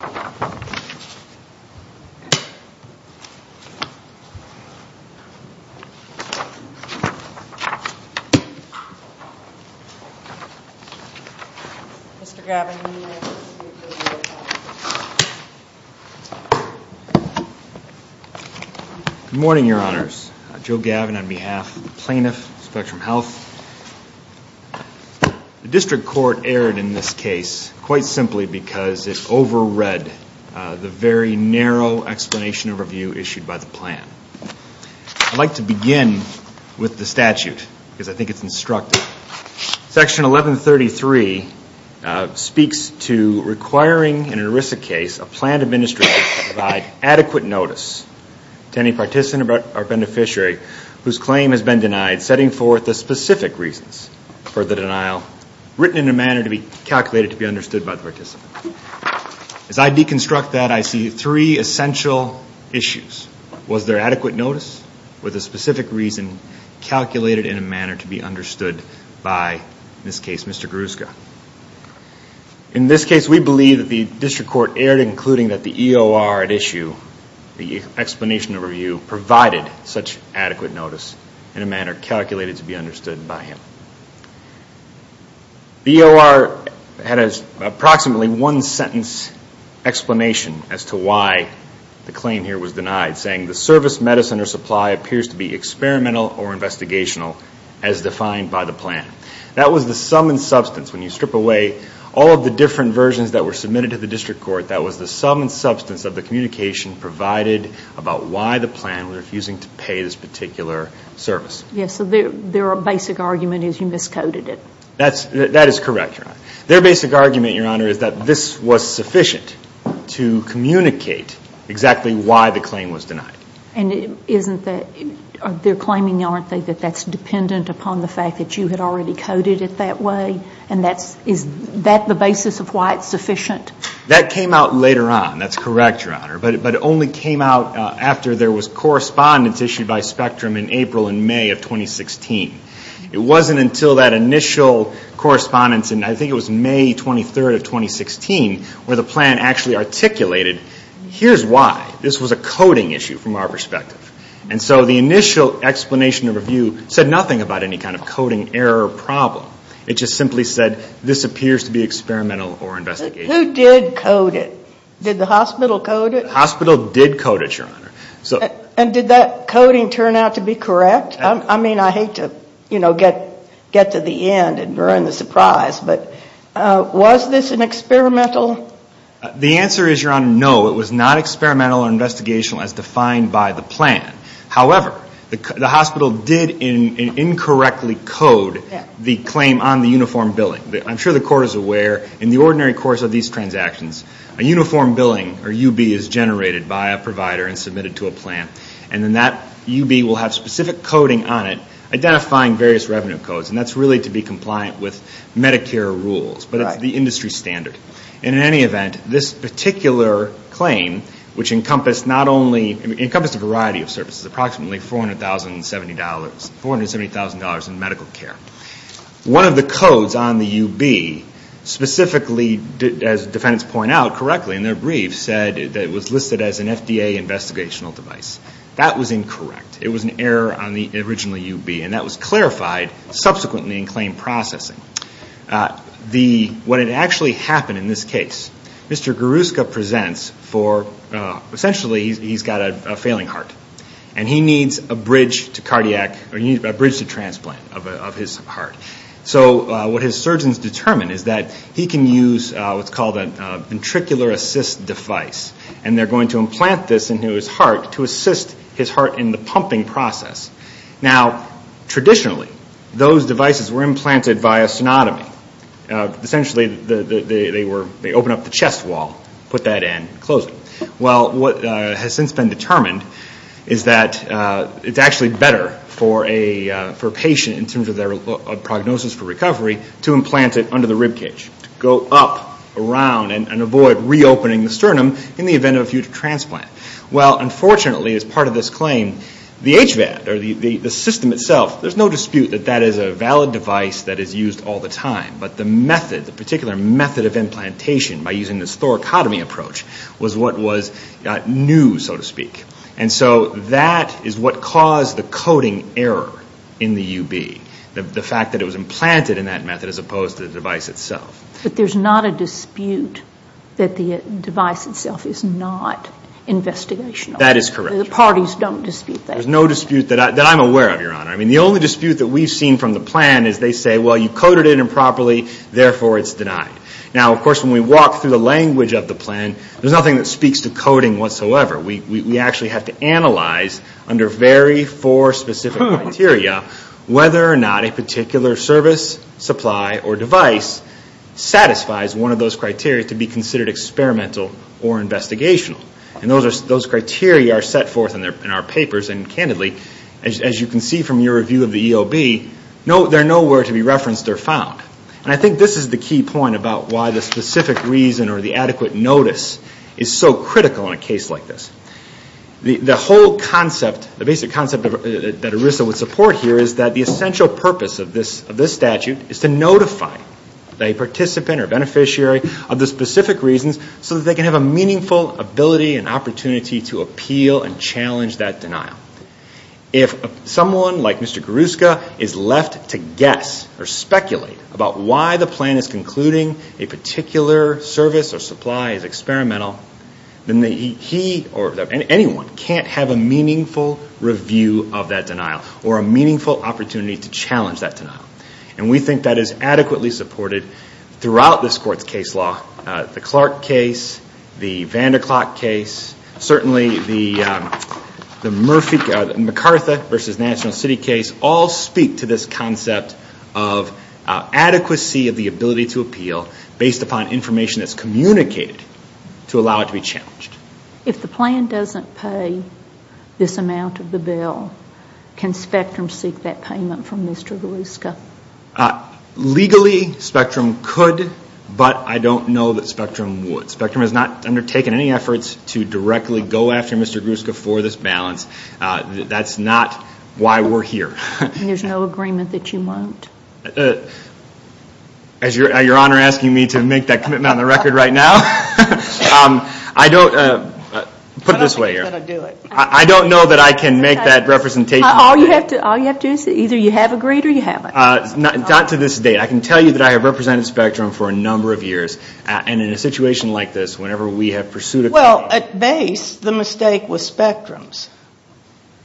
Good morning, your honors. Joe Gavin on behalf of the plaintiff, Spectrum Health. The district court erred in this case quite simply because it over read the very narrow explanation overview issued by the plan. I'd like to begin with the statute because I think it's instructive. Section 1133 speaks to requiring in an ERISA case a plan administrator to provide adequate notice to any participant or beneficiary whose claim has been denied, setting forth the specific reasons for the denial, written in a manner to be calculated to be understood by the participant. As I deconstruct that, I see three essential issues. Was there adequate notice with a specific reason calculated in a manner to be understood by, in this case, Mr. Garuska? In this case, we believe that the district court erred, including that the EOR at issue, the explanation overview, provided such adequate notice in a manner calculated to be understood by him. The EOR had approximately one sentence explanation as to why the claim here was denied, saying the service, medicine, or supply appears to be experimental or investigational as defined by the plan. That was the sum and substance. When you strip away all of the different versions that were submitted to the district court, that was the sum and substance of the communication provided about why the plan was refusing to pay this particular service. Yes. So their basic argument is you miscoded it. That is correct, Your Honor. Their basic argument, Your Honor, is that this was sufficient to communicate exactly why the claim was denied. And isn't that, they're claiming, aren't they, that that's dependent upon the fact that you had already coded it that way? And that's, is that the basis of why it's sufficient? That came out later on. That's correct, Your Honor. But it only came out after there was correspondence issued by Spectrum in April and May of 2016. It wasn't until that initial correspondence in, I think it was May 23rd of 2016, where the plan actually articulated, here's why. This was a coding issue from our perspective. And so the initial explanation of review said nothing about any kind of coding error problem. It just simply said, this appears to be experimental or investigational. Who did code it? Did the hospital code it? Hospital did code it, Your Honor. And did that coding turn out to be correct? I mean, I hate to, you know, get to the end and ruin the surprise, but was this an experimental? The answer is, Your Honor, no. It was not experimental or investigational as defined by the plan. However, the hospital did incorrectly code the claim on the uniform billing. I'm sure the Court is aware, in the ordinary course of these transactions, a uniform billing or UB is generated by a provider and submitted to a plan. And then that UB will have specific coding on it, identifying various revenue codes. And that's really to be compliant with Medicare rules. But it's the industry standard. And in any event, this particular claim, which encompassed not only, it encompassed a variety of services, approximately $470,000 in medical care. One of the codes on the UB, specifically, as defendants point out correctly in their brief, said that it was listed as an FDA investigational device. That was incorrect. It was an error on the original UB. And that was clarified subsequently in claim processing. What had actually happened in this case, Mr. Garuska presents for, essentially, he's got a failing heart. And he needs a bridge to cardiac, a bridge to transplant of his heart. So what his surgeons determined is that he can use what's called a ventricular assist device. And they're going to implant this into his heart to assist his heart in the pumping process. Now, traditionally, those devices were implanted via sonotomy. Essentially, they open up the ribcage. And what they determined is that it's actually better for a patient, in terms of their prognosis for recovery, to implant it under the ribcage. To go up, around, and avoid reopening the sternum in the event of a future transplant. Well, unfortunately, as part of this claim, the HVAD, or the system itself, there's no dispute that that is a valid device that is used all the time. But the method, the particular method of implantation, by using this thoracotomy approach, was what was new, so to speak. And so that is what caused the coding error in the UB. The fact that it was implanted in that method, as opposed to the device itself. But there's not a dispute that the device itself is not investigational. That is correct. The parties don't dispute that. There's no dispute that I'm aware of, Your Honor. I mean, the only dispute that we've seen from the plan is they say, well, you coded it improperly, therefore it's denied. Now, of course, when we walk through the language of the plan, there's nothing that speaks to coding whatsoever. We actually have to analyze, under very four specific criteria, whether or not a particular service, supply, or device satisfies one of those criteria to be considered experimental or investigational. And those criteria are set forth in our papers, and candidly, as you can see from your review of the EOB, they're nowhere to be referenced or found. And I think this is the key point about why the specific reason or the adequate notice is so critical in a case like this. The whole concept, the basic concept that ERISA would support here is that the essential purpose of this statute is to notify a participant or beneficiary of the specific reasons so that they can have a meaningful ability and opportunity to appeal and challenge that denial. If someone like Mr. Garuska is left to guess or speculate about why the plan is concluding a particular service or supply is experimental, then he or anyone can't have a meaningful review of that denial or a meaningful opportunity to challenge that denial. And we think that is adequately supported throughout this court's case law, the Clark and O'Clock case, certainly the McCarthy v. National City case, all speak to this concept of adequacy of the ability to appeal based upon information that's communicated to allow it to be challenged. If the plan doesn't pay this amount of the bill, can Spectrum seek that payment from Mr. Garuska? Legally, Spectrum could, but I don't know that Spectrum would. Spectrum has not undertaken any efforts to directly go after Mr. Garuska for this balance. That's not why we're here. And there's no agreement that you won't? As your Honor is asking me to make that commitment on the record right now, I don't know that I can make that representation. All you have to do is say either you have agreed or you haven't. Not to this date. I can tell you that I have represented Spectrum for a number of years, and in a situation like this, whenever we have pursued a claim... Well, at base, the mistake was Spectrum's.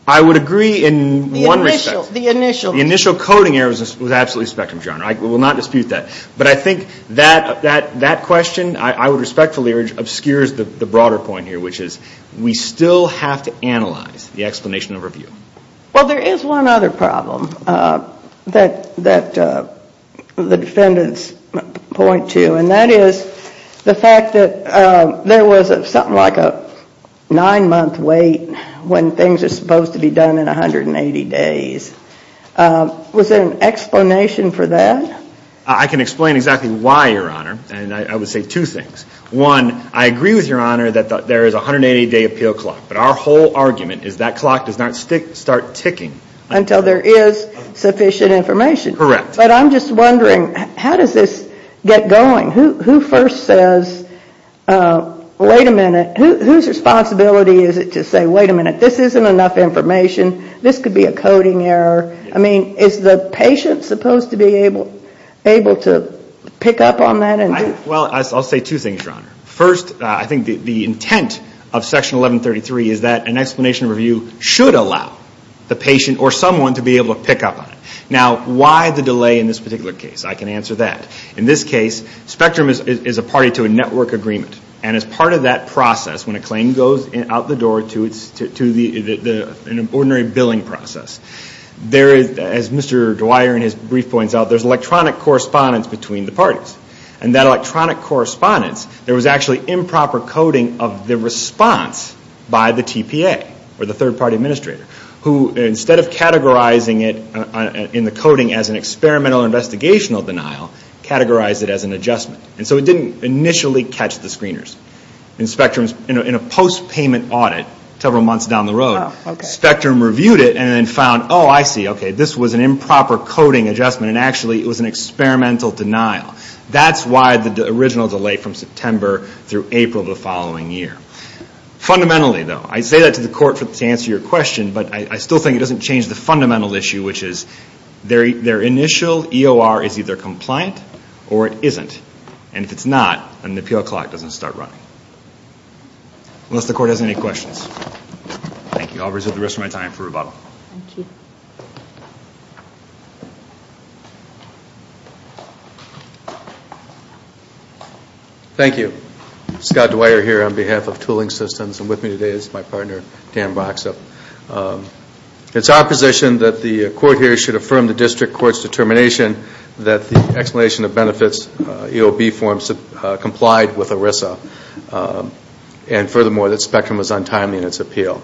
I would agree in one respect. The initial... The initial coding error was absolutely Spectrum's, Your Honor. I will not dispute that. But I think that question, I would respectfully urge, obscures the broader point here, which is we still have to analyze the explanation of review. Well, there is one other problem that the defendants point to, and that is the fact that there was something like a nine-month wait when things are supposed to be done in 180 days. Was there an explanation for that? I can explain exactly why, Your Honor, and I would say two things. One, I agree with Your Honor that there is a 180-day appeal clock, but our whole argument is that clock does not start ticking... Until there is sufficient information. Correct. But I'm just wondering, how does this get going? Who first says, wait a minute, whose responsibility is it to say, wait a minute, this isn't enough information, this could be a coding error? I mean, is the patient supposed to be able to pick up on that and... Well, I'll say two things, Your Honor. First, I think the intent of Section 1133 is that an explanation of review should allow the patient or someone to be able to pick up on it. Now, why the delay in this particular case? I can answer that. In this case, Spectrum is a party to a network agreement, and as part of that process, when a claim goes out the door to an ordinary billing process, there is, as Mr. Dwyer in his brief points out, there's electronic correspondence between the parties, and that electronic correspondence, there was actually improper coding of the response by the TPA, or the third-party administrator, who instead of categorizing it in the coding as an experimental investigational denial, categorized it as an adjustment. And so it didn't initially catch the screeners. In Spectrum's... In a post-payment audit, several months down the road, Spectrum reviewed it and then found, oh, I see, okay, this was an improper coding adjustment, and actually it was an experimental denial. That's why the original delay from September through April of the following year. Fundamentally, though, I say that to the court to answer your question, but I still think it doesn't change the fundamental issue, which is their initial EOR is either compliant or it isn't. And if it's not, then the appeal clock doesn't start running. Unless the court has any questions. Thank you. I'll reserve the rest of my time for rebuttal. Thank you. Thank you. Scott Dwyer here on behalf of Tooling Systems, and with me today is my partner, Dan Voxop. It's our position that the court here should affirm the district court's determination that the Explanation of Benefits EOB form complied with ERISA. And furthermore, that Spectrum was untimely in its appeal.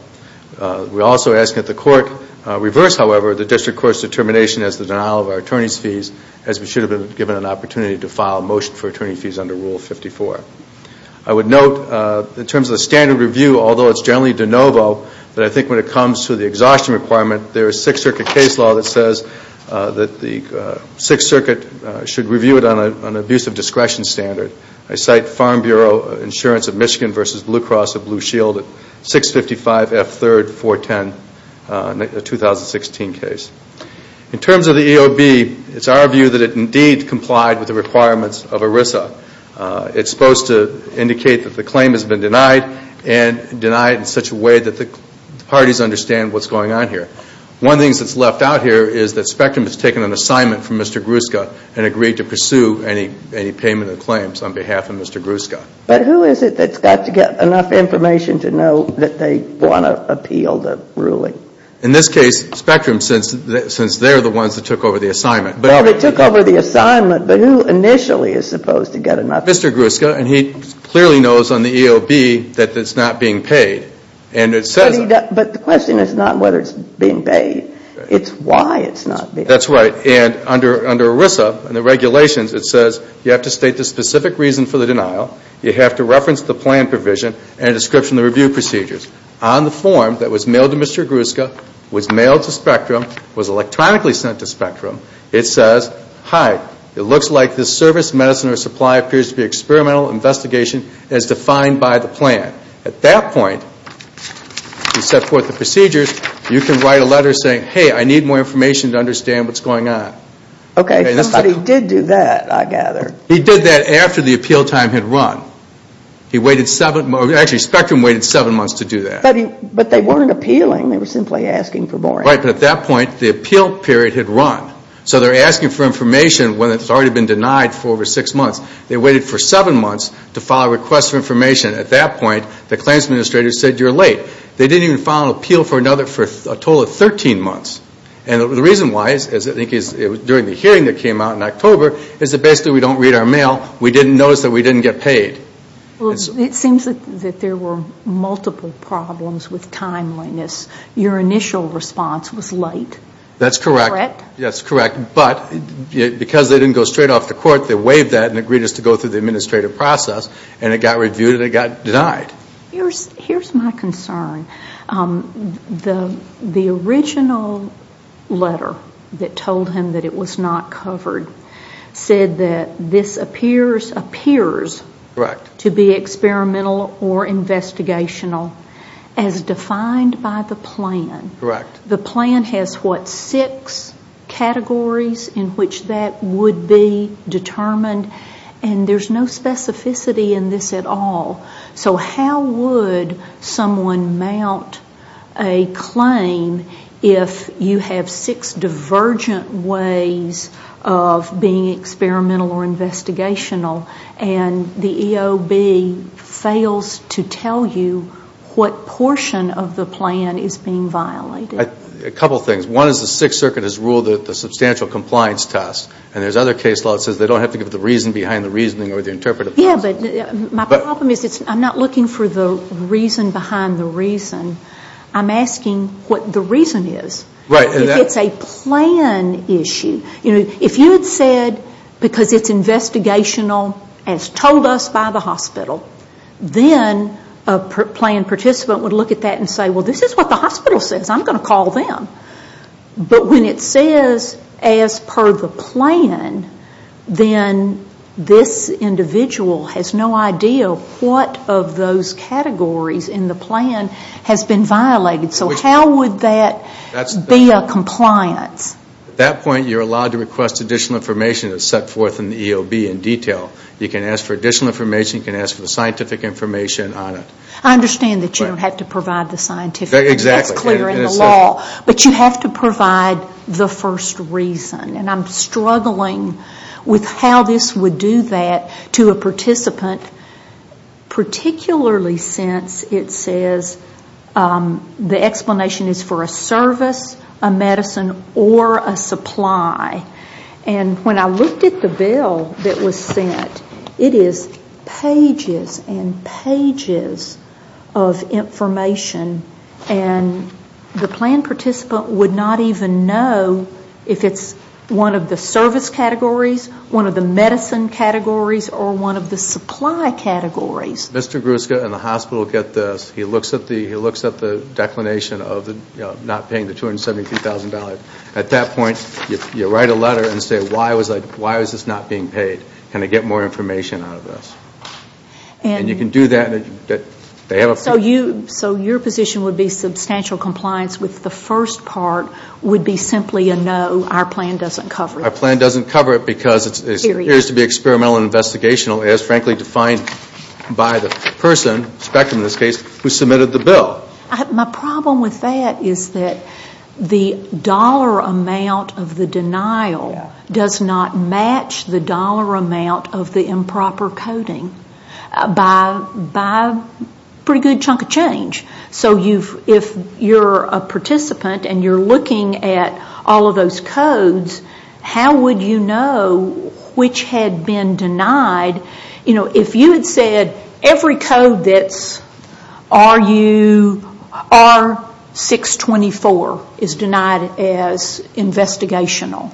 We're also asking that the court reverse, however, the district court's determination as the denial of our attorney's fees as we should have been given an opportunity to file a motion for attorney fees under Rule 54. I would note, in terms of the standard review, although it's generally de novo, that I think when it comes to the exhaustion requirement, there is Sixth Circuit case law that says that the Sixth Circuit should review it on an abuse of discretion standard. I cite Farm Bureau Insurance of Michigan v. Blue Cross of Blue Shield at 655 F. 3rd, 410, a 2016 case. In terms of the EOB, it's our view that it indeed complied with the requirements of ERISA. It's supposed to indicate that the claim has been denied and denied in such a way that the parties understand what's going on here. One of the things that's left out here is that Spectrum has taken an assignment from Mr. Gruszka and agreed to pursue any payment of claims on behalf of Mr. Gruszka. But who is it that's got to get enough information to know that they want to appeal the ruling? In this case, Spectrum, since they're the ones that took over the assignment. Well, they took over the assignment, but who initially is supposed to get enough? Mr. Gruszka, and he clearly knows on the EOB that it's not being paid. And it says that. But the question is not whether it's being paid. It's why it's not being paid. That's right. And under ERISA and the regulations, it says you have to state the specific reason for the denial. You have to reference the plan provision and a description of the review procedures. On the form that was mailed to Mr. Gruszka, was mailed to Spectrum, was electronically sent to Spectrum, it says, hi, it looks like this service, medicine, or supply appears to be experimental investigation as defined by the plan. At that point, you set forth the procedures. You can write a letter saying, hey, I need more information to understand what's going on. Okay, somebody did do that, I gather. He did that after the appeal time had run. He waited seven, actually Spectrum waited seven months to do that. But they weren't appealing, they were simply asking for more. Right, but at that point, the appeal period had run. So they're asking for information when it's already been denied for over six months. They waited for seven months to file a request for information. At that point, the claims administrator said, you're late. They didn't even file an appeal for another, for a total of 13 months. And the reason why is, I think it was during the hearing that came out in October, is that basically we don't read our mail. We didn't notice that we didn't get paid. Well, it seems that there were multiple problems with timeliness. Your initial response was late. That's correct. Yes, correct. But because they didn't go straight off to court, they waived that and agreed us to go through the administrative process, and it got reviewed and it got denied. Here's my concern. The original letter that told him that it was not covered said that this appears to be experimental or investigational, as defined by the plan. Correct. The plan has what, six categories in which that would be determined? And there's no specificity in this at all. So how would someone mount a claim if you have six divergent ways of being experimental or investigational, and the EOB fails to tell you what portion of the plan is being violated? A couple things. One is the Sixth Circuit has ruled that the substantial compliance test, and there's other case law that says they don't have to give the reason behind the reasoning or the interpretive test. Yes, but my problem is I'm not looking for the reason behind the reason. I'm asking what the reason is. Right. If it's a plan issue, if you had said because it's investigational as told us by the hospital, then a plan participant would look at that and say, well, this is what the hospital says. I'm going to call them. But when it says as per the plan, then this individual has no idea what of those categories in the plan has been violated. So how would that be a compliance? At that point, you're allowed to request additional information that's set forth in the EOB in detail. You can ask for additional information. You can ask for the scientific information on it. I understand that you don't have to provide the scientific. Exactly. It's clear in the law. But you have to provide the first reason. And I'm struggling with how this would do that to a participant, particularly since it says the explanation is for a service, a medicine, or a supply. And when I looked at the bill that was sent, it is pages and pages of information. And the plan participant would not even know if it's one of the service categories, one of the medicine categories, or one of the supply categories. Mr. Gruska and the hospital get this. He looks at the declination of not paying the $270,000. At that point, you write a letter and say, why was this not being paid? Can I get more information out of this? And you can do that. So your position would be substantial compliance with the first part would be simply a no, our plan doesn't cover it. Our plan doesn't cover it because it appears to be experimental and investigational, as frankly defined by the person, Spectrum in this case, who submitted the bill. My problem with that is that the dollar amount of the denial does not match the dollar amount of the improper coding by a pretty good chunk of change. So if you're a participant and you're looking at all of those codes, how would you know which had been denied? You know, if you had said every code that's R624 is denied as investigational,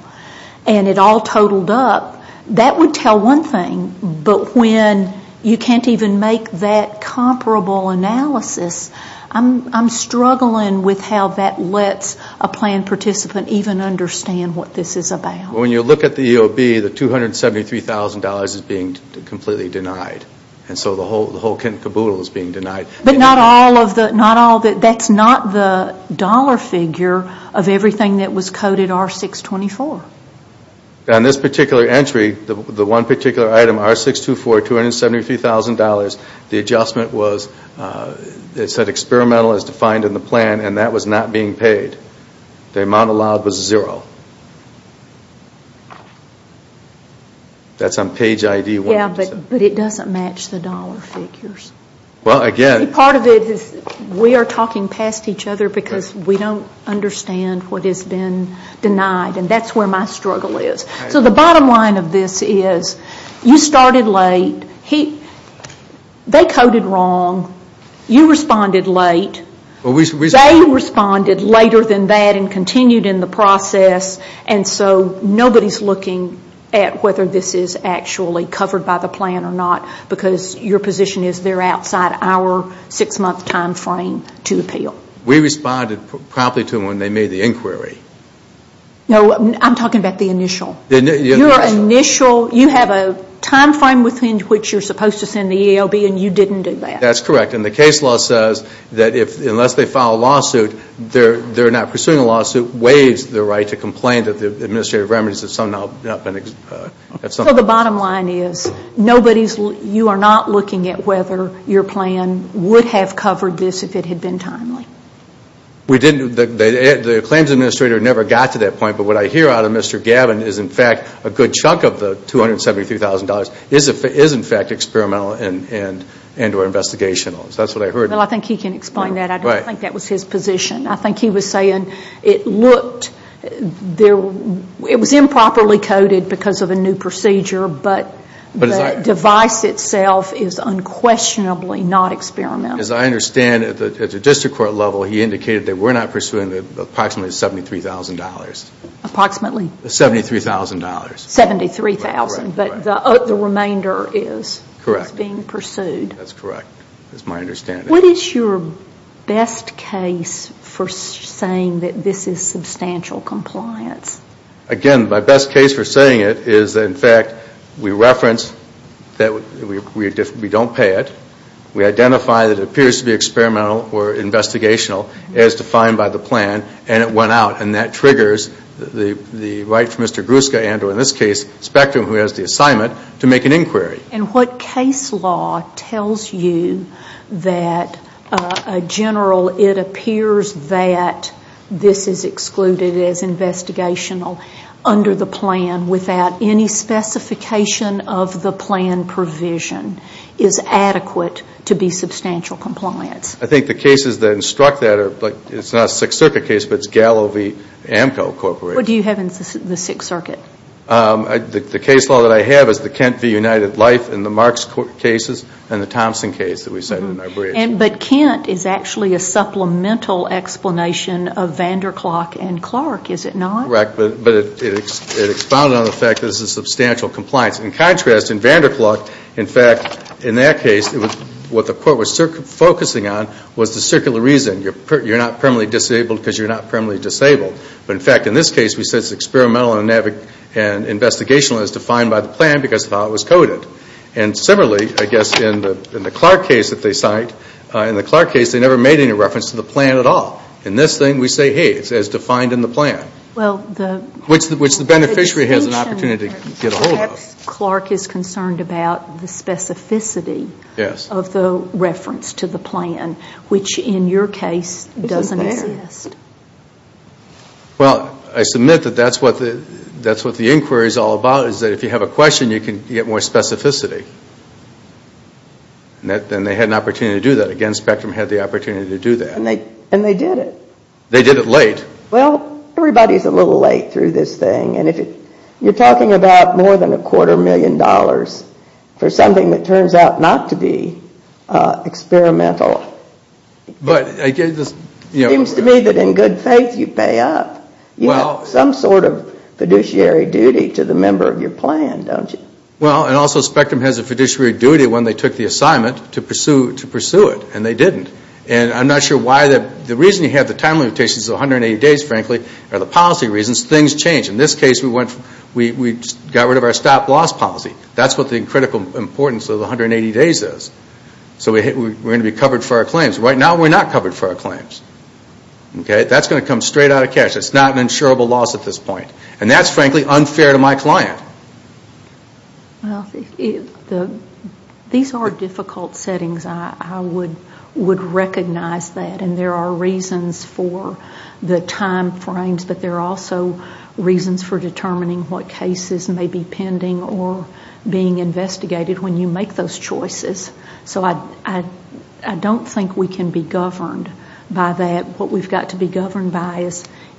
and it all totaled up, that would tell one thing. But when you can't even make that comparable analysis, I'm struggling with how that lets a plan participant even understand what this is about. When you look at the EOB, the $273,000 is being completely denied. And so the whole kiboodle is being denied. But not all of the, that's not the dollar figure of everything that was coded R624. On this particular entry, the one particular item, R624, $273,000, the adjustment was, it said experimental as defined in the plan, and that was not being paid. The amount allowed was zero. That's on page ID one. Yeah, but it doesn't match the dollar figures. Well, again. Part of it is we are talking past each other because we don't understand what has been denied. And that's where my struggle is. So the bottom line of this is, you started late. They coded wrong. You responded late. They responded later than that and continued in the process. And so nobody's looking at whether this is actually covered by the plan or not because your position is they're outside our six-month time frame to appeal. We responded properly to them when they made the inquiry. No, I'm talking about the initial. Your initial, you have a time frame within which you're supposed to send the EOB and you didn't do that. That's correct. And the case law says that unless they file a lawsuit, they're not pursuing a lawsuit, waives the right to complain that the administrative remedies have somehow not been. So the bottom line is nobody's, you are not looking at whether your plan would have covered this if it had been timely. We didn't, the claims administrator never got to that point. But what I hear out of Mr. Gavin is in fact a good chunk of the $273,000 is in fact experimental and or investigational. That's what I heard. Well, I think he can explain that. I don't think that was his position. I think he was saying it looked, it was improperly coded because of a new procedure but the device itself is unquestionably not experimental. As I understand it, at the district court level, he indicated that we're not pursuing approximately $73,000. Approximately? $73,000. $73,000 but the remainder is being pursued. That's correct. That's my understanding. What is your best case for saying that this is substantial compliance? Again, my best case for saying it is in fact we reference that we don't pay it. We identify that it appears to be experimental or investigational as defined by the plan and it went out. And that triggers the right for Mr. Gruska and or in this case Spectrum who has the assignment to make an inquiry. And what case law tells you that a general it appears that this is excluded as investigational under the plan without any specification of the plan provision is adequate to be substantial compliance? I think the cases that instruct that are, it's not a Sixth Circuit case but it's Gallo v. Amco Corporation. What do you have in the Sixth Circuit? The case law that I have is the Kent v. United Life in the Marks cases and the Thompson case that we sent in our brief. But Kent is actually a supplemental explanation of Vanderklok and Clark, is it not? Correct, but it expounded on the fact that this is substantial compliance. In contrast, in Vanderklok, in fact, in that case, what the court was focusing on was the circular reason. You're not permanently disabled because you're not permanently disabled. But in fact, in this case, we said it's experimental and investigational as defined by the plan because of how it was coded. And similarly, I guess in the Clark case that they cite, in the Clark case they never made any reference to the plan at all. In this thing, we say, hey, it's as defined in the plan. Well, the. Which the beneficiary has an opportunity to get a hold of. Perhaps Clark is concerned about the specificity. Yes. Of the reference to the plan, which in your case doesn't exist. Well, I submit that that's what the inquiry is all about, is that if you have a question, you can get more specificity. And they had an opportunity to do that. Again, Spectrum had the opportunity to do that. And they did it. They did it late. Well, everybody's a little late through this thing. And if you're talking about more than a quarter million dollars for something that turns out not to be experimental, it seems to me that in good faith you pay up. You have some sort of fiduciary duty to the member of your plan, don't you? Well, and also Spectrum has a fiduciary duty when they took the assignment to pursue it. And they didn't. And I'm not sure why. The reason you have the time limitations of 180 days, frankly, are the policy reasons. Things change. In this case, we got rid of our stop loss policy. That's what the critical importance of the 180 days is. So we're going to be covered for our claims. Right now, we're not covered for our claims. Okay? That's going to come straight out of cash. It's not an insurable loss at this point. And that's, frankly, unfair to my client. Well, these are difficult settings. I would recognize that. And there are reasons for the time frames. But there are also reasons for determining what cases may be pending or being investigated when you make those choices. So I don't think we can be governed by that. What we've got to be governed by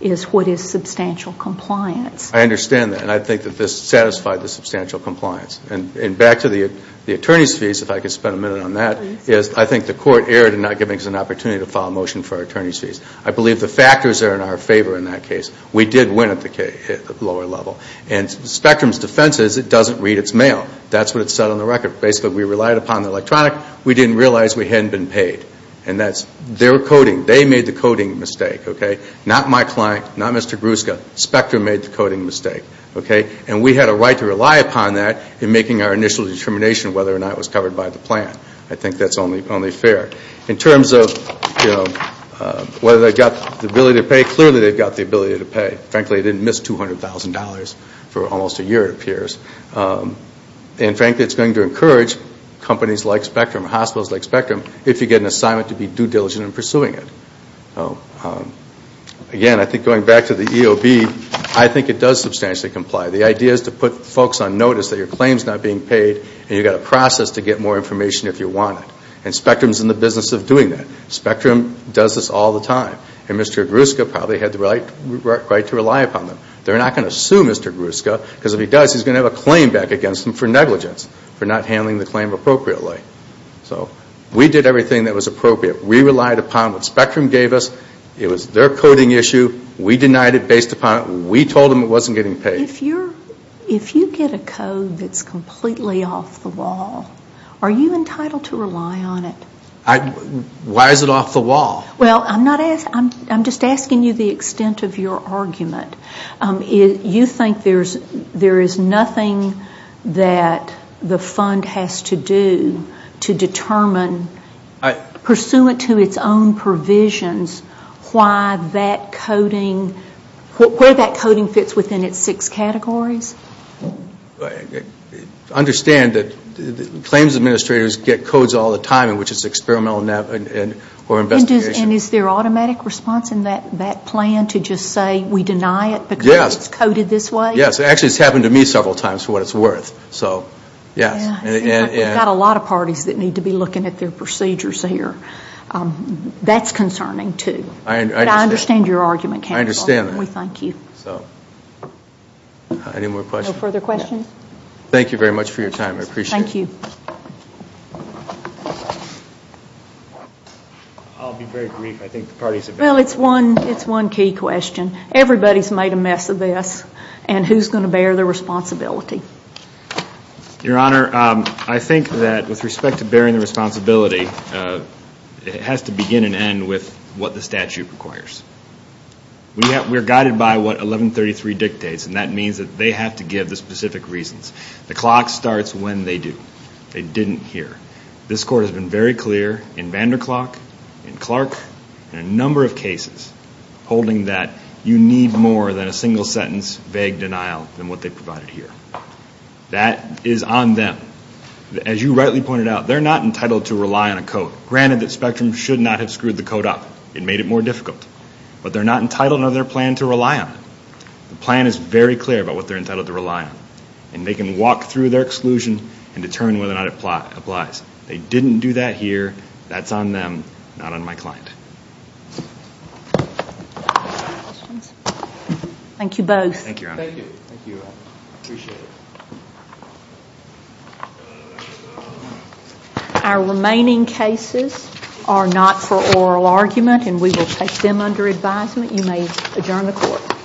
is what is substantial compliance. I understand that. And I think that this satisfied the substantial compliance. And back to the attorney's fees, if I could spend a minute on that. Yes. I think the court erred in not giving us an opportunity to file a motion for our attorney's fees. I believe the factors are in our favor in that case. We did win at the lower level. And Spectrum's defense is it doesn't read its mail. That's what it said on the record. Basically, we relied upon the electronic. We didn't realize we hadn't been paid. And that's their coding. They made the coding mistake. Okay? Not my client. Not Mr. Gruszka. Spectrum made the coding mistake. Okay? And we had a right to rely upon that in making our initial determination whether or not it was covered by the plan. I think that's only fair. In terms of whether they've got the ability to pay, clearly they've got the ability to pay. Frankly, it didn't miss $200,000 for almost a year, it appears. And frankly, it's going to encourage companies like Spectrum, hospitals like Spectrum, if you get an assignment to be due diligent in pursuing it. Again, I think going back to the EOB, I think it does substantially comply. The idea is to put folks on notice that your claim's not being paid and you've got a process to get more information if you want it. And Spectrum's in the business of doing that. Spectrum does this all the time. And Mr. Gruszka probably had the right to rely upon them. They're not going to sue Mr. Gruszka because if he does, he's going to have a claim back against him for negligence for not handling the claim appropriately. So we did everything that was appropriate. We relied upon what Spectrum gave us. It was their coding issue. We denied it based upon it. We told them it wasn't getting paid. If you get a code that's completely off the wall, are you entitled to rely on it? Why is it off the wall? Well, I'm just asking you the extent of your argument. You think there is nothing that the fund has to do to determine, pursuant to its own provisions, why that coding, where that coding fits within its six categories? Understand that claims administrators get codes all the time in which it's experimental or investigation. And is there automatic response in that plan to just say, we deny it because it's coded this way? Yes. Actually, it's happened to me several times for what it's worth. We've got a lot of parties that need to be looking at their procedures here. That's concerning, too. But I understand your argument. I understand that. We thank you. Any more questions? No further questions? Thank you very much for your time. I appreciate it. Thank you. Thank you. I'll be very brief. Well, it's one key question. Everybody's made a mess of this, and who's going to bear the responsibility? Your Honor, I think that with respect to bearing the responsibility, it has to begin and end with what the statute requires. We're guided by what 1133 dictates, and that means that they have to give the specific reasons. The clock starts when they do. They didn't hear. This Court has been very clear in Vanderklark, in Clark, in a number of cases, holding that you need more than a single sentence vague denial than what they provided here. That is on them. As you rightly pointed out, they're not entitled to rely on a code. Granted that Spectrum should not have screwed the code up. It made it more difficult. But they're not entitled under their plan to rely on it. The plan is very clear about what they're entitled to rely on, and they can walk through their exclusion and determine whether or not it applies. They didn't do that here. That's on them, not on my client. Thank you both. Thank you, Your Honor. Thank you. I appreciate it. Our remaining cases are not for oral argument, and we will take them under advisement. You may adjourn the Court.